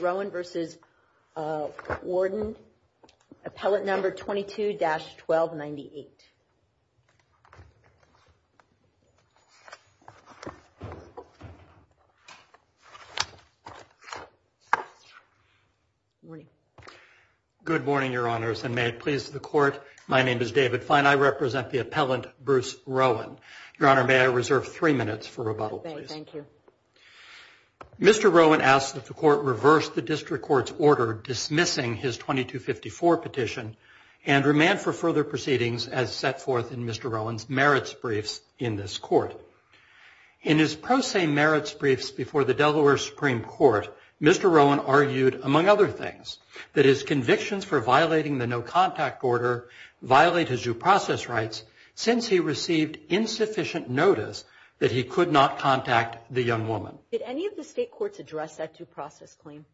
Rowan v. Warden Appellant number 22-1298. Good morning, Your Honors, and may it please the Court, my name is David Fine. I represent the appellant, Bruce Rowan. Your Honor, may I reserve three minutes for rebuttal, please? Thank you. Mr. Rowan asked that the Court reverse the district court's order dismissing his 2254 petition and remand for further proceedings as set forth in Mr. Rowan's merits briefs in this court. In his pro se merits briefs before the Delaware Supreme Court, Mr. Rowan argued, among other things, that his convictions for violating the no contact order violate his due process rights since he received insufficient notice that he could not contact the young woman. Did any of the state courts address that due process claim?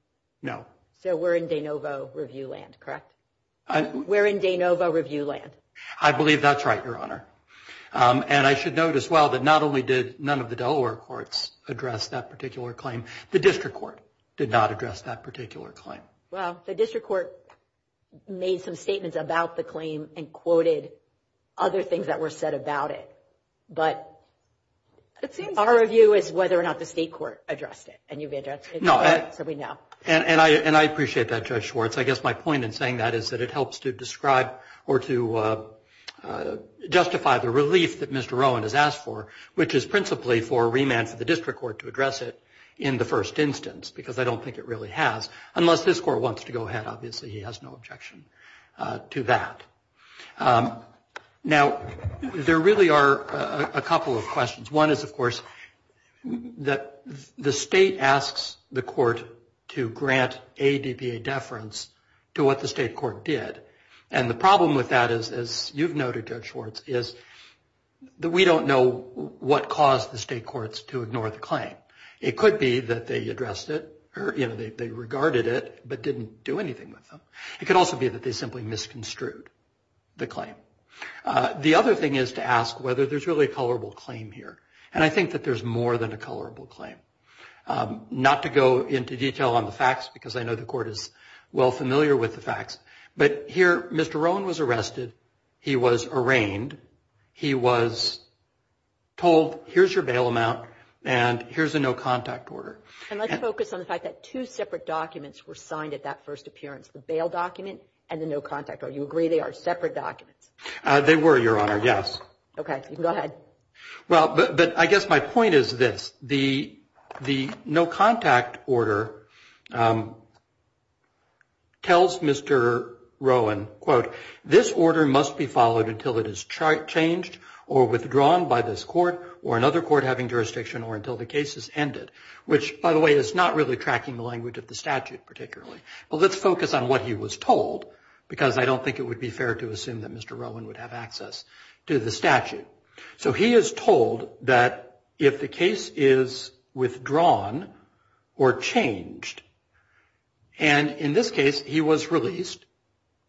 No. So we're in de novo review land, correct? We're in de novo review land. I believe that's right, Your Honor. And I should note as well that not only did none of the Delaware courts address that particular claim, the district court did not address that particular claim. Well, the district court made some statements about the claim and quoted other things that were said about it. But our view is whether or not the state court addressed it. And you've addressed it, so we know. And I appreciate that, Judge Schwartz. I guess my point in saying that is that it helps to describe or to justify the relief that Mr. Rowan has asked for, which is principally for remand for the district court to address it in the first instance, because I don't think it really has. Unless this court wants to go ahead, obviously he has no objection to that. Now, there really are a couple of questions. One is, of course, that the state asks the court to grant ADBA deference to what the state court did. And the problem with that is, as you've noted, Judge Schwartz, is that we don't know what caused the state courts to ignore the claim. It could be that they addressed it, or they regarded it, but didn't do anything with them. It could also be that they simply misconstrued the claim. The other thing is to ask whether there's really a colorable claim here. And I think that there's more than a colorable claim. Not to go into detail on the facts, because I know the court is well familiar with the facts, but here, Mr. Rowan was arrested. He was arraigned. He was told, here's your bail amount, and here's a no contact order. And let's focus on the fact that two separate documents were signed at that first appearance, the bail document and the no contact order. You agree they are separate documents? They were, Your Honor, yes. OK, you can go ahead. Well, but I guess my point is this. The no contact order tells Mr. Rowan, quote, this order must be followed until it is changed or withdrawn by this court or another court having jurisdiction or until the case is ended, which, by the way, is not really tracking the language of the statute particularly. Well, let's focus on what he was told, because I don't think it would be fair to assume that Mr. Rowan would have access to the statute. So he is told that if the case is withdrawn or changed, and in this case, he was released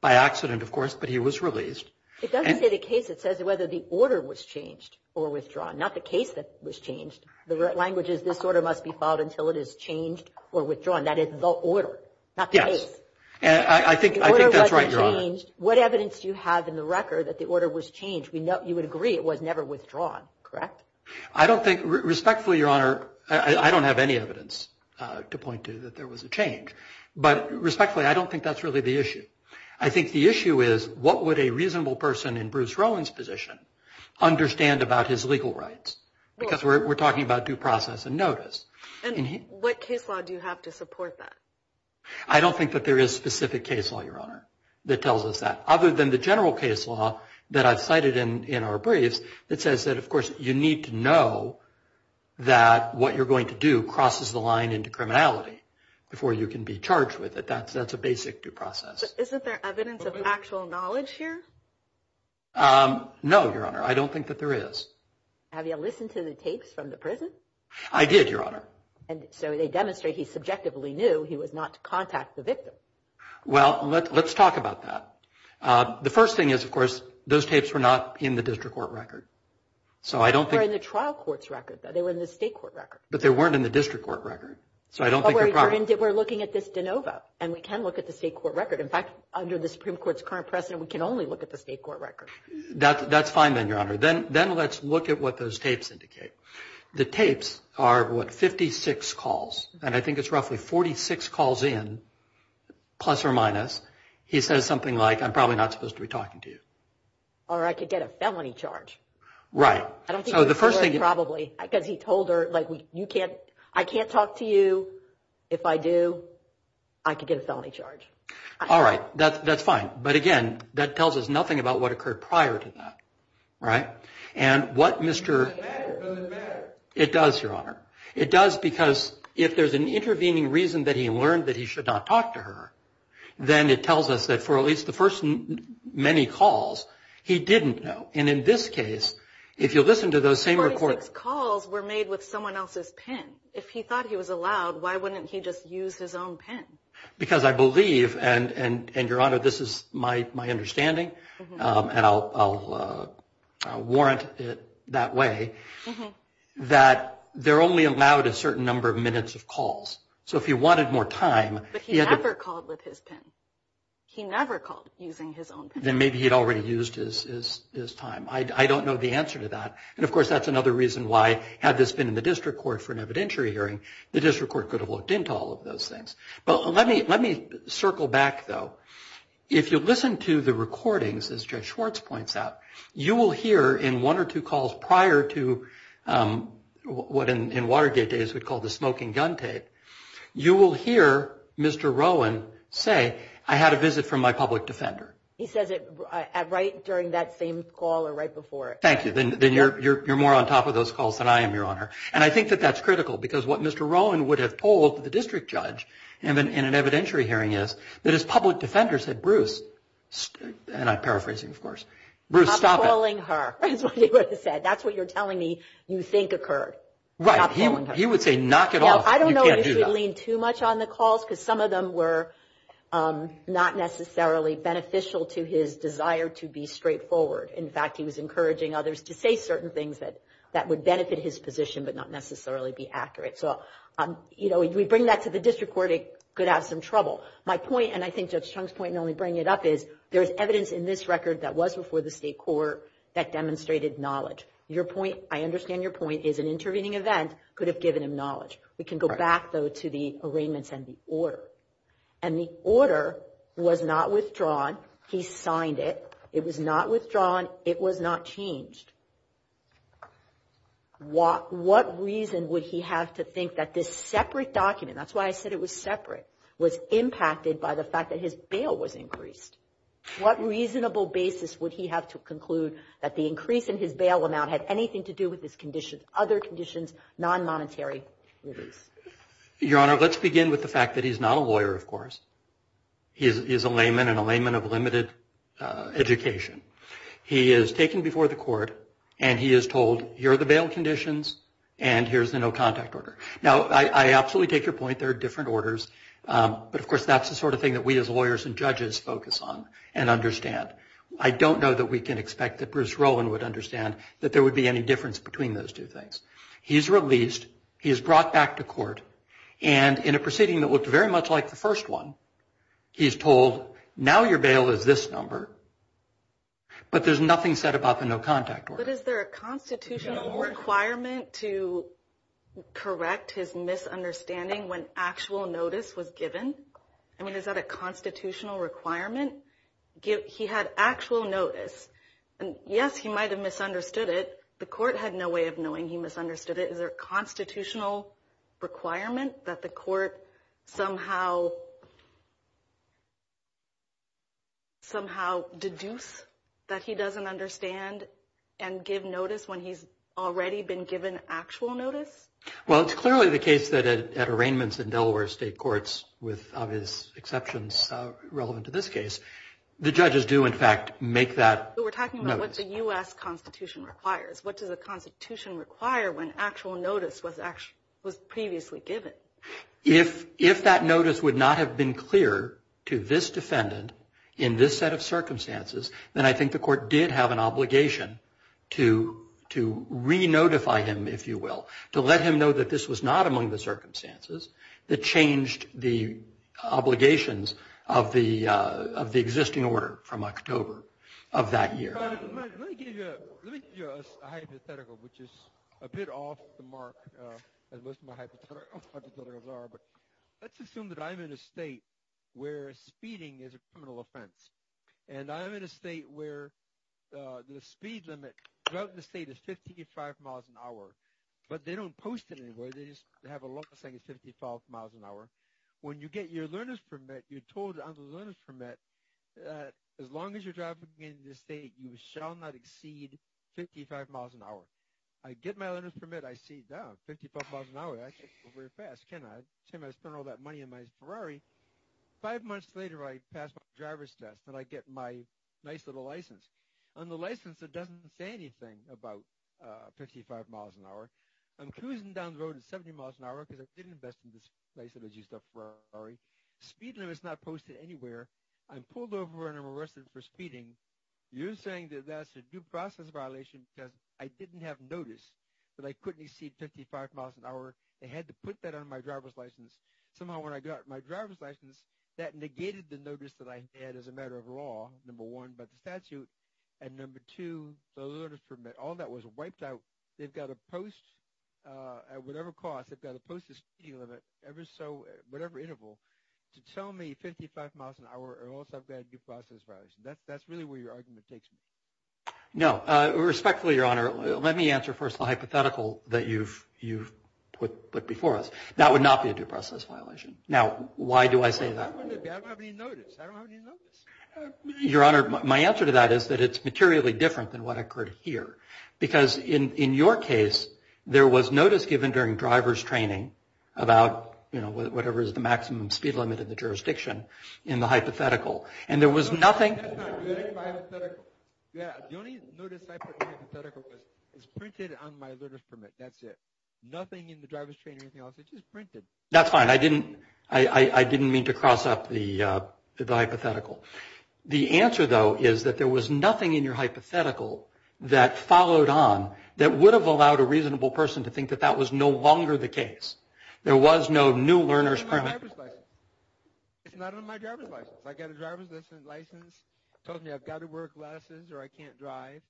by accident, of course, but he was released. It doesn't say the case. It says whether the order was changed or withdrawn, not the case that was changed. The language is this order must be followed until it is changed or withdrawn. That is the order, not the case. And I think that's right, Your Honor. What evidence do you have in the record that the order was changed? You would agree it was never withdrawn, correct? I don't think, respectfully, Your Honor, I don't have any evidence to point to that there was a change. But respectfully, I don't think that's really the issue. I think the issue is, what would a reasonable person in Bruce Rowan's position understand about his legal rights? Because we're talking about due process and notice. And what case law do you have to support that? I don't think that there is a specific case law, Your Honor, that tells us that, other than the general case law that I've cited in our briefs, that says that, of course, you need to know that what you're going to do crosses the line into criminality before you can be charged with it. That's a basic due process. Isn't there evidence of actual knowledge here? No, Your Honor, I don't think that there is. Have you listened to the tapes from the prison? I did, Your Honor. And so they demonstrate he subjectively knew he was not to contact the victim. Well, let's talk about that. The first thing is, of course, those tapes were not in the district court record. So I don't think. They were in the trial court's record, though. They were in the state court record. But they weren't in the district court record. So I don't think they're proper. We're looking at this de novo. And we can look at the state court record. In fact, under the Supreme Court's current precedent, we can only look at the state court record. That's fine, then, Your Honor. Then let's look at what those tapes indicate. The tapes are, what, 56 calls. And I think it's roughly 46 calls in, plus or minus. He says something like, I'm probably not supposed to be talking to you. Or I could get a felony charge. Right. I don't think you're sure, probably, because he told her, like, I can't talk to you. If I do, I could get a felony charge. All right, that's fine. But again, that tells us nothing about what occurred prior to that, right? And what Mr. It doesn't matter. It does, Your Honor. It does because if there's an intervening reason that he learned that he should not talk to her, then it tells us that, for at least the first many calls, he didn't know. And in this case, if you listen to those same records. 46 calls were made with someone else's pen. If he thought he was allowed, why wouldn't he just use his own pen? Because I believe, and Your Honor, this is my understanding, and I'll warrant it that way, that they're only allowed a certain number of minutes of calls. So if he wanted more time, he had to. He never called with his pen. He never called using his own pen. Then maybe he'd already used his time. I don't know the answer to that. And of course, that's another reason why, had this been in the district court for an evidentiary hearing, the district court could have looked into all of those things. But let me circle back, though. If you listen to the recordings, as Judge Schwartz points out, you will hear in one or two calls prior to what in Watergate days we'd call the smoking gun tape, you will hear Mr. Rowan say, I had a visit from my public defender. He says it right during that same call or right before it. Thank you, then you're more on top of those calls than I am, Your Honor. And I think that that's critical because what Mr. Rowan would have told the district judge in an evidentiary hearing is that his public defender said, Bruce, and I'm paraphrasing, of course, Bruce, stop it. Stop calling her, is what he would have said. That's what you're telling me you think occurred. Right, he would say, knock it off, you can't do that. I don't know if he would lean too much on the calls because some of them were not necessarily beneficial to his desire to be straightforward. In fact, he was encouraging others to say certain things that would benefit his position but not necessarily be accurate. So if we bring that to the district court, it could have some trouble. My point, and I think Judge Chung's point in only bringing it up, is there is evidence in this record that was before the state court that demonstrated knowledge. Your point, I understand your point, is an intervening event could have given him knowledge. We can go back, though, to the arraignments and the order. And the order was not withdrawn. He signed it. It was not withdrawn. It was not changed. What reason would he have to think that this separate document, that's why I said it was separate, was impacted by the fact that his bail was increased? What reasonable basis would he have to conclude that the increase in his bail amount had anything to do with his other conditions, non-monetary release? Your Honor, let's begin with the fact that he's not a lawyer, of course. He is a layman, and a layman of limited education. He is taken before the court. And he is told, here are the bail conditions. And here's the no contact order. Now, I absolutely take your point. There are different orders. But of course, that's the sort of thing that we as lawyers and judges focus on and understand. I don't know that we can expect that Bruce Rowland would understand that there would be any difference between those two things. He's released. He is brought back to court. And in a proceeding that looked very much like the first one, he's told, now your bail is this number. But there's nothing said about the no contact order. But is there a constitutional requirement to correct his misunderstanding when actual notice was given? I mean, is that a constitutional requirement? He had actual notice. And yes, he might have misunderstood it. The court had no way of knowing he misunderstood it. Is there a constitutional requirement that the court somehow deduce that he doesn't understand and give notice when he's already been given actual notice? Well, it's clearly the case that at arraignments in Delaware state courts, with obvious exceptions relevant to this case, the judges do, in fact, make that notice. I'm talking about what the US Constitution requires. What does the Constitution require when actual notice was previously given? If that notice would not have been clear to this defendant in this set of circumstances, then I think the court did have an obligation to re-notify him, if you will, to let him know that this was not among the circumstances that changed the obligations of the existing order from October of that year. Let me give you a hypothetical, which is a bit off the mark, as most of my hypotheticals are. But let's assume that I'm in a state where speeding is a criminal offense. And I'm in a state where the speed limit throughout the state is 55 miles an hour. But they don't post it anywhere. They just have a law saying it's 55 miles an hour. When you get your learner's permit, you're told on the learner's permit that as long as you're driving in this state, you shall not exceed 55 miles an hour. I get my learner's permit. I see, oh, 55 miles an hour. I can go very fast, can't I? I spend all that money on my Ferrari. Five months later, I pass my driver's test, and I get my nice little license. On the license, it doesn't say anything about 55 miles an hour. I'm cruising down the road at 70 miles an hour because I didn't invest in this place that was used as a Ferrari. Speed limit's not posted anywhere. I'm pulled over, and I'm arrested for speeding. You're saying that that's a due process violation because I didn't have notice that I couldn't exceed 55 miles an hour. They had to put that on my driver's license. Somehow, when I got my driver's license, that negated the notice that I had as a matter of law, number one, by the statute. And number two, the learner's permit, all that was wiped out. They've got to post, at whatever cost, they've got to post the speed limit ever so, whatever interval, to tell me 55 miles an hour, or else I've got a due process violation. That's really where your argument takes me. No, respectfully, Your Honor, let me answer first the hypothetical that you've put before us. That would not be a due process violation. Now, why do I say that? I don't have any notice. I don't have any notice. Your Honor, my answer to that is that it's materially different than what occurred here. Because in your case, there was notice given during driver's training about whatever is the maximum speed limit in the jurisdiction in the hypothetical. And there was nothing. That's not good in my hypothetical. Yeah, the only notice I put in my hypothetical was it's printed on my learner's permit. That's it. Nothing in the driver's training or anything else. It's just printed. That's fine. I didn't mean to cross up the hypothetical. The answer, though, is that there was nothing in your hypothetical that followed on that would have allowed a reasonable person to think that that was no longer the case. There was no new learner's permit. It's not on my driver's license. I got a driver's license. Tells me I've got to wear glasses or I can't drive.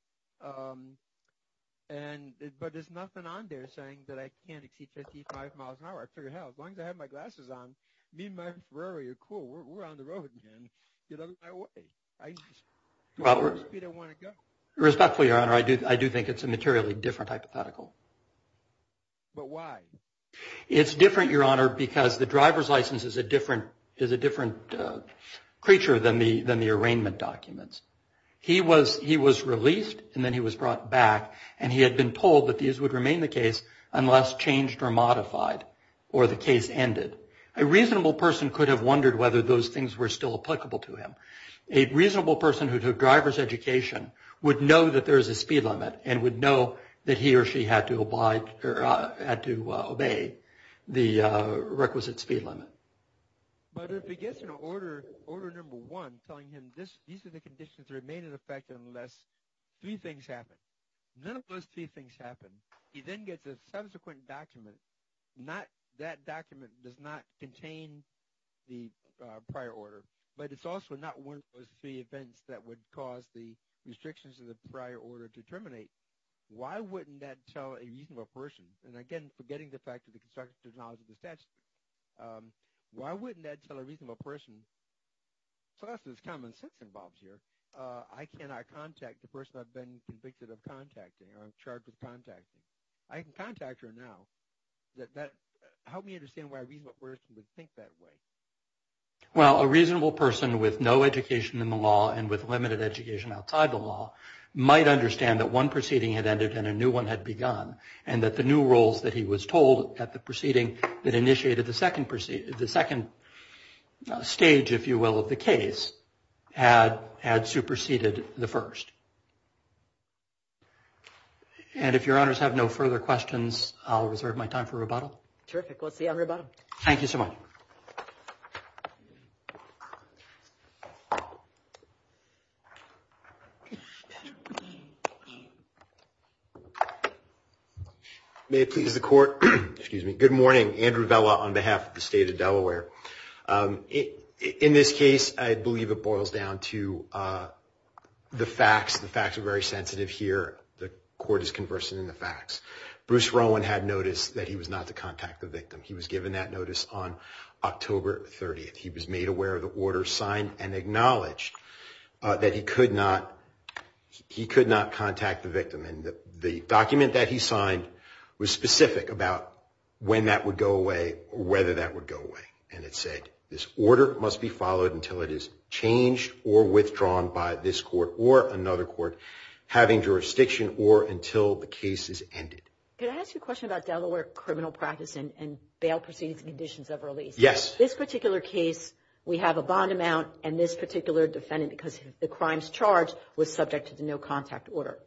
But there's nothing on there saying that I can't exceed 55 miles an hour. I figure, hell, as long as I have my glasses on, me and my Ferrari are cool. We're on the road again. Get out of my way. I know the speed I want to go. Respectfully, Your Honor, I do think it's a materially different hypothetical. But why? It's different, Your Honor, because the driver's license is a different creature than the arraignment documents. He was released, and then he was brought back. And he had been told that these would remain the case unless changed or modified or the case ended. A reasonable person could have wondered whether those things were still applicable to him. A reasonable person who took driver's education would know that there is a speed limit and would know that he or she had to obey the requisite speed limit. But if he gets an order, order number one, telling him these are the conditions that remain in effect unless three things happen. None of those three things happen. He then gets a subsequent document. That document does not contain the prior order. But it's also not one of those three events that would cause the restrictions of the prior order to terminate. Why wouldn't that tell a reasonable person? And again, forgetting the fact that the construction of knowledge of the statute, why wouldn't that tell a reasonable person? So that's this common sense involved here. I cannot contact the person I've been convicted of contacting or I'm charged with contacting. I can contact her now. Help me understand why a reasonable person would think that way. Well, a reasonable person with no education in the law and with limited education outside the law might understand that one proceeding had ended and a new one had begun and that the new rules that he was told at the proceeding that initiated the second stage, if you will, of the case had superseded the first. And if your honors have no further questions, I'll reserve my time for rebuttal. Terrific. We'll see you on rebuttal. Thank you so much. Patrick. May it please the court. Excuse me. Good morning. Andrew Vela on behalf of the state of Delaware. In this case, I believe it boils down to the facts. The facts are very sensitive here. The court is conversant in the facts. Bruce Rowan had noticed that he was not to contact the victim. He was given that notice on October 30th. He was made aware of the order signed and acknowledged that he could not contact the victim. And the document that he signed was specific about when that would go away or whether that would go away. And it said, this order must be followed until it is changed or withdrawn by this court or another court having jurisdiction or until the case is ended. Can I ask you a question about Delaware criminal practice and bail proceedings and conditions of release? Yes. This particular case, we have a bond amount and this particular defendant, because the crimes charged, was subject to the no contact order.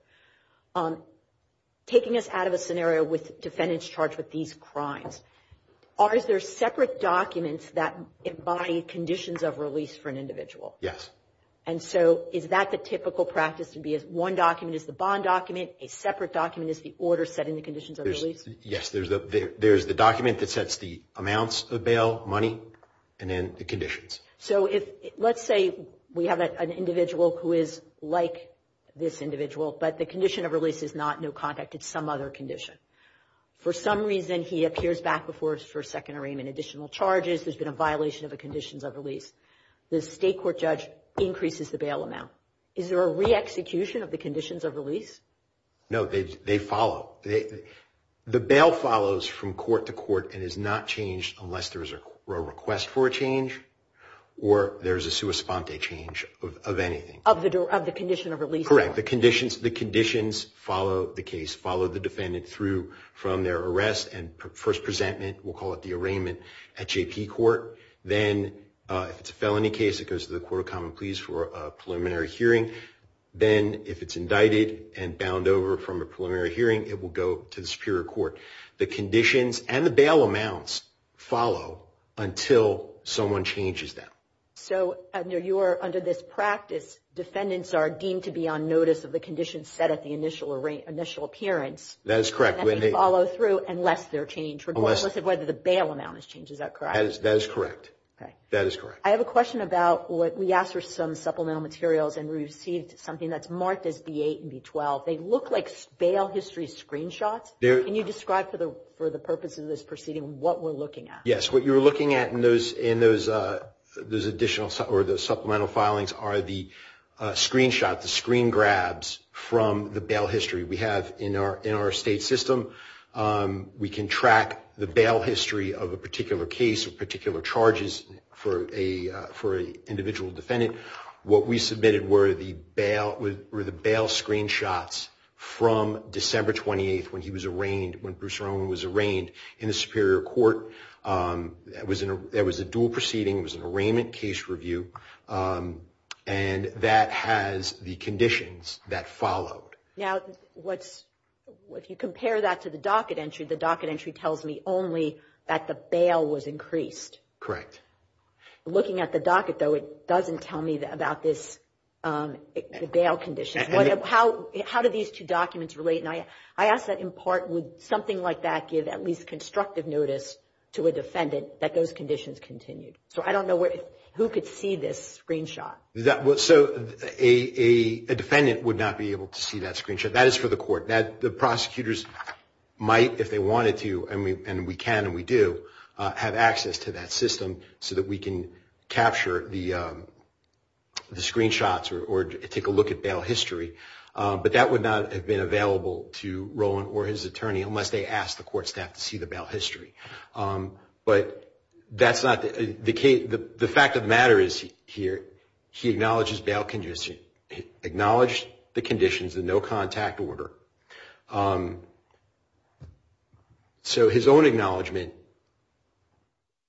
Taking us out of a scenario with defendants charged with these crimes, are there separate documents that embody conditions of release for an individual? Yes. And so is that the typical practice to be as one document is the bond document, a separate document is the order setting the conditions of release? Yes. There's the document that sets the amounts of bail, money, and then the conditions. So let's say we have an individual who is like this individual, but the condition of release is not no contact. It's some other condition. For some reason, he appears back before us for a second arraignment, additional charges, there's been a violation of the conditions of release. The state court judge increases the bail amount. Is there a re-execution of the conditions of release? No, they follow. The bail follows from court to court and is not changed unless there is a request for a change or there is a sua sponte change of anything. Of the condition of release. Correct. The conditions follow the case, follow the defendant through from their arrest and first presentment, we'll call it the arraignment, at JP court. Then if it's a felony case, it goes to the court of common pleas for a preliminary hearing. Then if it's indicted and bound over from a preliminary hearing, it will go to the superior court. The conditions and the bail amounts follow until someone changes them. So under this practice, defendants are deemed to be on notice of the conditions set at the initial appearance. That is correct. And they follow through unless they're changed, regardless of whether the bail amount is changed. Is that correct? That is correct. That is correct. I have a question about what we asked for some supplemental materials and we received something that's marked as B8 and B12. They look like bail history screenshots. Can you describe for the purpose of this proceeding what we're looking at? Yes, what you're looking at in those additional or the supplemental filings are the screenshot, the screen grabs from the bail history. We have in our state system, we can track the bail history of a particular case or particular charges for a individual defendant. What we submitted were the bail screenshots from December 28th when he was arraigned, when Bruce Roman was arraigned in the Superior Court. It was a dual proceeding, it was an arraignment case review and that has the conditions that followed. Now, if you compare that to the docket entry, the docket entry tells me only that the bail was increased. Correct. Looking at the docket though, it doesn't tell me about this, the bail conditions. How do these two documents relate? And I ask that in part, would something like that give at least constructive notice to a defendant that those conditions continued? So I don't know who could see this screenshot. So a defendant would not be able to see that screenshot. That is for the court. The prosecutors might, if they wanted to, and we can and we do, have access to that system so that we can capture the screenshots or take a look at bail history. But that would not have been available to Roman or his attorney unless they asked the court staff to see the bail history. But that's not, the fact of the matter is here, he acknowledged his bail conditions, acknowledged the conditions, the no contact order. So his own acknowledgement,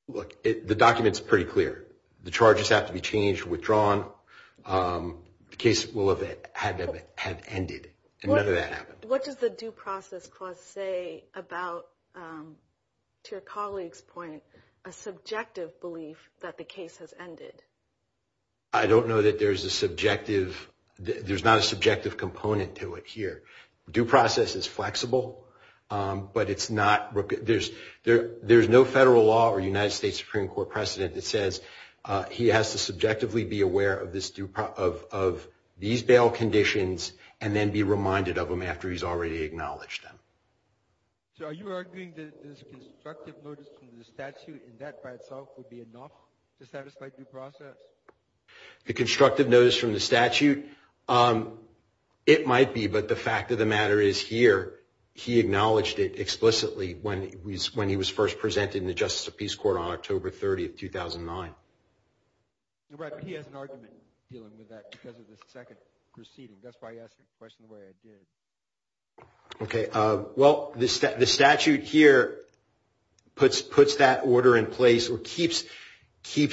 look, the document's pretty clear. The charges have to be changed, withdrawn. The case will have ended, and none of that happened. What does the due process clause say about, to your colleague's point, a subjective belief that the case has ended? I don't know that there's a subjective, there's not a subjective component to it here. Due process is flexible, but it's not, there's no federal law or United States Supreme Court precedent that says he has to subjectively be aware of these bail conditions and then be reminded of them after he's already acknowledged them. So are you arguing that this constructive notice from the statute in that by itself would be enough to satisfy due process? The constructive notice from the statute, it might be, but the fact of the matter is here, he acknowledged it explicitly when he was first presented in the Justice of Peace Court on October 30th, 2009. Right, but he has an argument dealing with that because of the second proceeding. That's why he asked the question the way I did. Okay, well, the statute here puts that order in place or keeps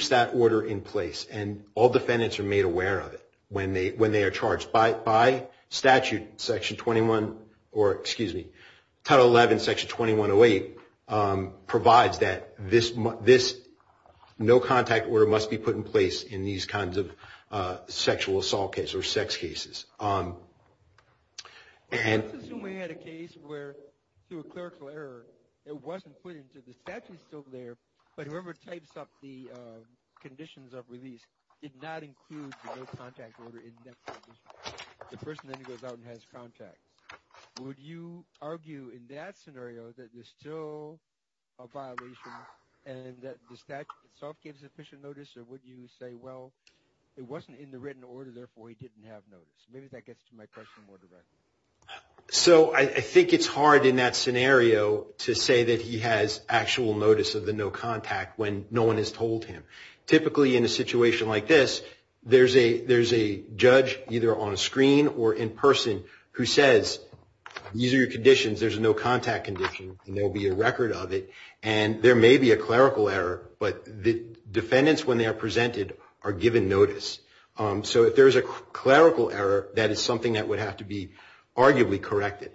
that order in place, and all defendants are made aware of it when they are charged by statute, Section 21, or excuse me, Title 11, Section 2108 provides that this no-contact order must be put in place in these kinds of sexual assault case or sex cases. And- Let's assume we had a case where through a clerical error, it wasn't put into the statute, it's still there, but whoever types up the conditions of release did not include the no-contact order in that condition. The person then goes out and has contact. Would you argue in that scenario that there's still a violation and that the statute itself gives sufficient notice, or would you say, well, it wasn't in the written order, therefore he didn't have notice? Maybe that gets to my question more directly. So I think it's hard in that scenario to say that he has actual notice of the no-contact when no one has told him. Typically in a situation like this, there's a judge either on a screen or in person who says, these are your conditions, there's a no-contact condition, and there'll be a record of it, and there may be a clerical error, but the defendants, when they are presented, are given notice. So if there's a clerical error, that is something that would have to be arguably corrected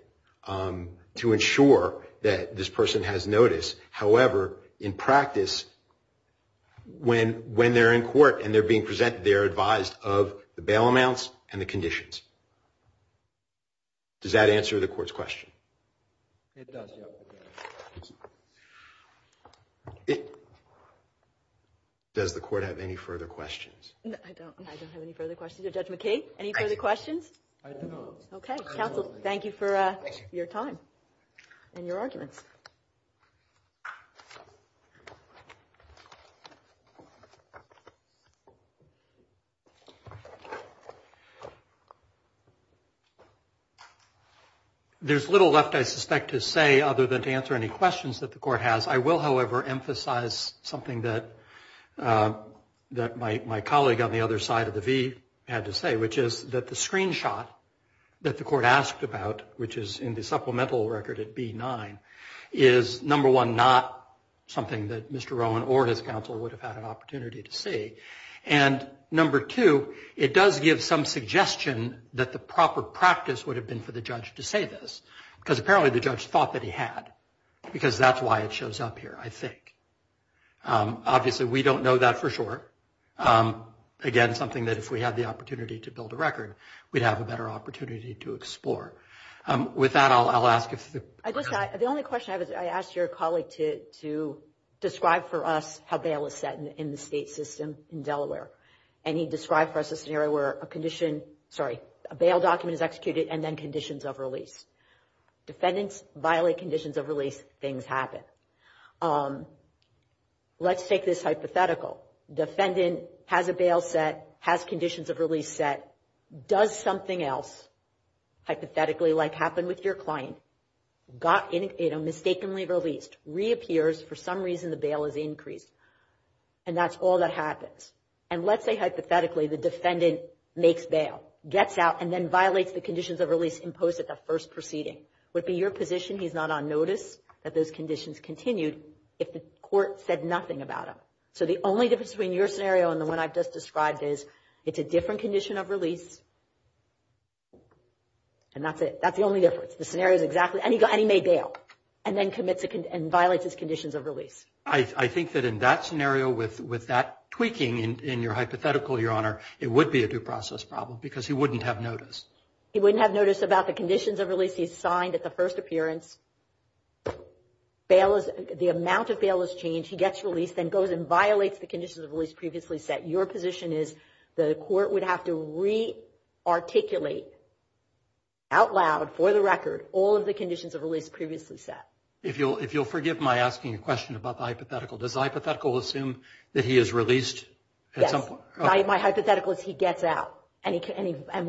to ensure that this person has notice. However, in practice, when they're in court and they're being presented, they're advised of the bail amounts and the conditions. Does that answer the court's question? It does, yeah. Does the court have any further questions? I don't have any further questions. Judge McKee, any further questions? I don't. Okay, counsel, thank you for your time and your arguments. Thank you. There's little left, I suspect, to say other than to answer any questions that the court has. I will, however, emphasize something that my colleague on the other side of the V had to say, which is that the screenshot that the court asked about, which is in the supplemental record at B9, is, number one, not something that Mr. Rowan or his counsel would have had an opportunity to see, and number two, it does give some suggestion that the proper practice would have been for the judge to say this, because apparently the judge thought that he had, because that's why it shows up here, I think. Obviously, we don't know that for sure. Again, something that if we had the opportunity to build a record, we'd have a better opportunity to explore. With that, I'll ask if the... I guess the only question I have is, I asked your colleague to describe for us how bail is set in the state system in Delaware, and he described for us a scenario where a condition, sorry, a bail document is executed and then conditions of release. Defendants violate conditions of release, things happen. Let's take this hypothetical. Defendant has a bail set, has conditions of release set. Does something else, hypothetically, like happened with your client, got mistakenly released, reappears, for some reason the bail is increased, and that's all that happens. And let's say, hypothetically, the defendant makes bail, gets out, and then violates the conditions of release imposed at the first proceeding. Would it be your position he's not on notice that those conditions continued if the court said nothing about him? So the only difference between your scenario and the one I've just described is, it's a different condition of release, and that's it, that's the only difference. The scenario's exactly, and he made bail, and then commits and violates his conditions of release. I think that in that scenario, with that tweaking in your hypothetical, Your Honor, it would be a due process problem because he wouldn't have notice. He wouldn't have notice about the conditions of release he's signed at the first appearance. Bail is, the amount of bail is changed, he gets released, then goes and violates the conditions of release previously set. Your position is, the court would have to re-articulate out loud, for the record, all of the conditions of release previously set. If you'll forgive my asking a question about the hypothetical. Does the hypothetical assume that he is released? Yes, my hypothetical is he gets out, and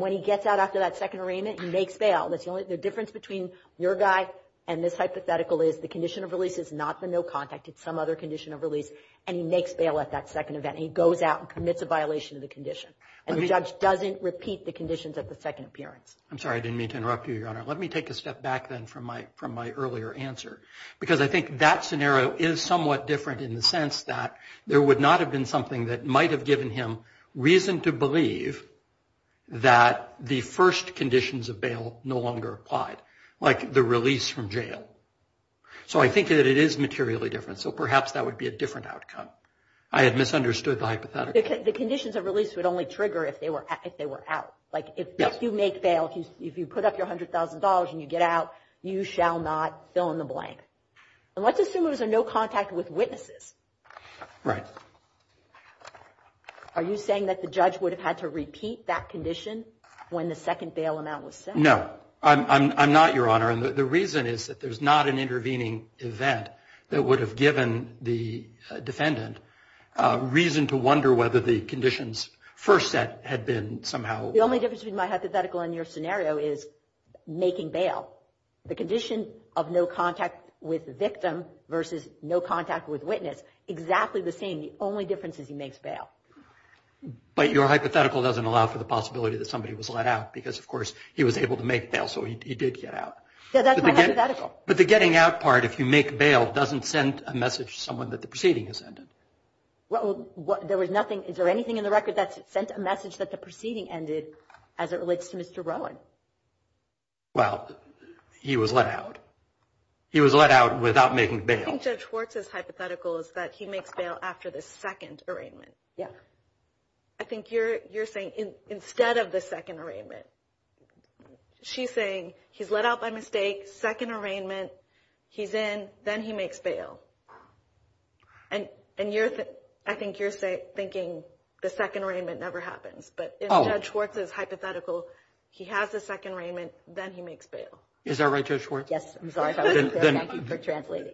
when he gets out after that second arraignment, he makes bail. The difference between your guy and this hypothetical is the condition of release is not the no contact, it's some other condition of release, and he makes bail at that second event, and he goes out and commits a violation of the condition. And the judge doesn't repeat the conditions at the second appearance. I'm sorry, I didn't mean to interrupt you, Your Honor. Let me take a step back then from my earlier answer. Because I think that scenario is somewhat different in the sense that there would not have been something that might have given him reason to believe that the first conditions of bail no longer applied. Like the release from jail. So I think that it is materially different. So perhaps that would be a different outcome. I had misunderstood the hypothetical. The conditions of release would only trigger if they were out. Like if you make bail, if you put up your $100,000 and you get out, you shall not fill in the blank. And let's assume it was a no contact with witnesses. Right. Are you saying that the judge would have had to repeat that condition when the second bail amount was set? No, I'm not, Your Honor. And the reason is that there's not an intervening event that would have given the defendant a reason to wonder whether the conditions first set had been somehow. The only difference between my hypothetical and your scenario is making bail. The condition of no contact with the victim versus no contact with witness, exactly the same. The only difference is he makes bail. But your hypothetical doesn't allow for the possibility that somebody was let out. Because of course, he was able to make bail. So he did get out. Yeah, that's my hypothetical. But the getting out part, if you make bail, doesn't send a message to someone that the proceeding has ended. Well, there was nothing. Is there anything in the record that sent a message that the proceeding ended as it relates to Mr. Rowan? Well, he was let out. He was let out without making bail. I think Judge Schwartz's hypothetical is that he makes bail after the second arraignment. Yeah. I think you're saying instead of the second arraignment. She's saying he's let out by mistake, second arraignment, he's in, then he makes bail. And I think you're thinking the second arraignment never happens. But if Judge Schwartz's hypothetical, he has the second arraignment, then he makes bail. Is that right, Judge Schwartz? Yes. I'm sorry if I wasn't clear. Thank you for translating.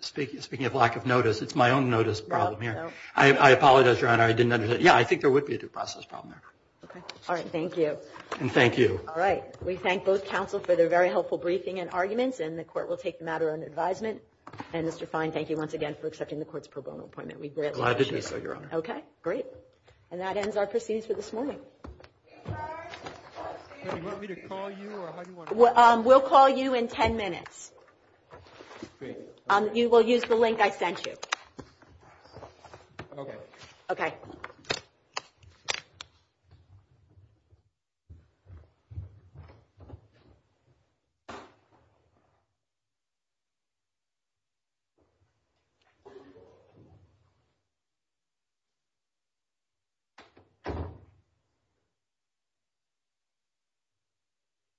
Speaking of lack of notice, it's my own notice problem here. I apologize, Your Honor, I didn't understand. Yeah, I think there would be a due process problem there. Okay. All right, thank you. And thank you. All right, we thank both counsel for their very helpful briefing and arguments. And the court will take the matter under advisement. And Mr. Fine, thank you once again for accepting the court's pro bono appointment. We greatly appreciate it. Glad to do so, Your Honor. Okay, great. And that ends our proceedings for this morning. Excuse me, do you want me to call you or how do you want to call me? We'll call you in 10 minutes. Great. You will use the link I sent you. Okay. Okay. Thank you.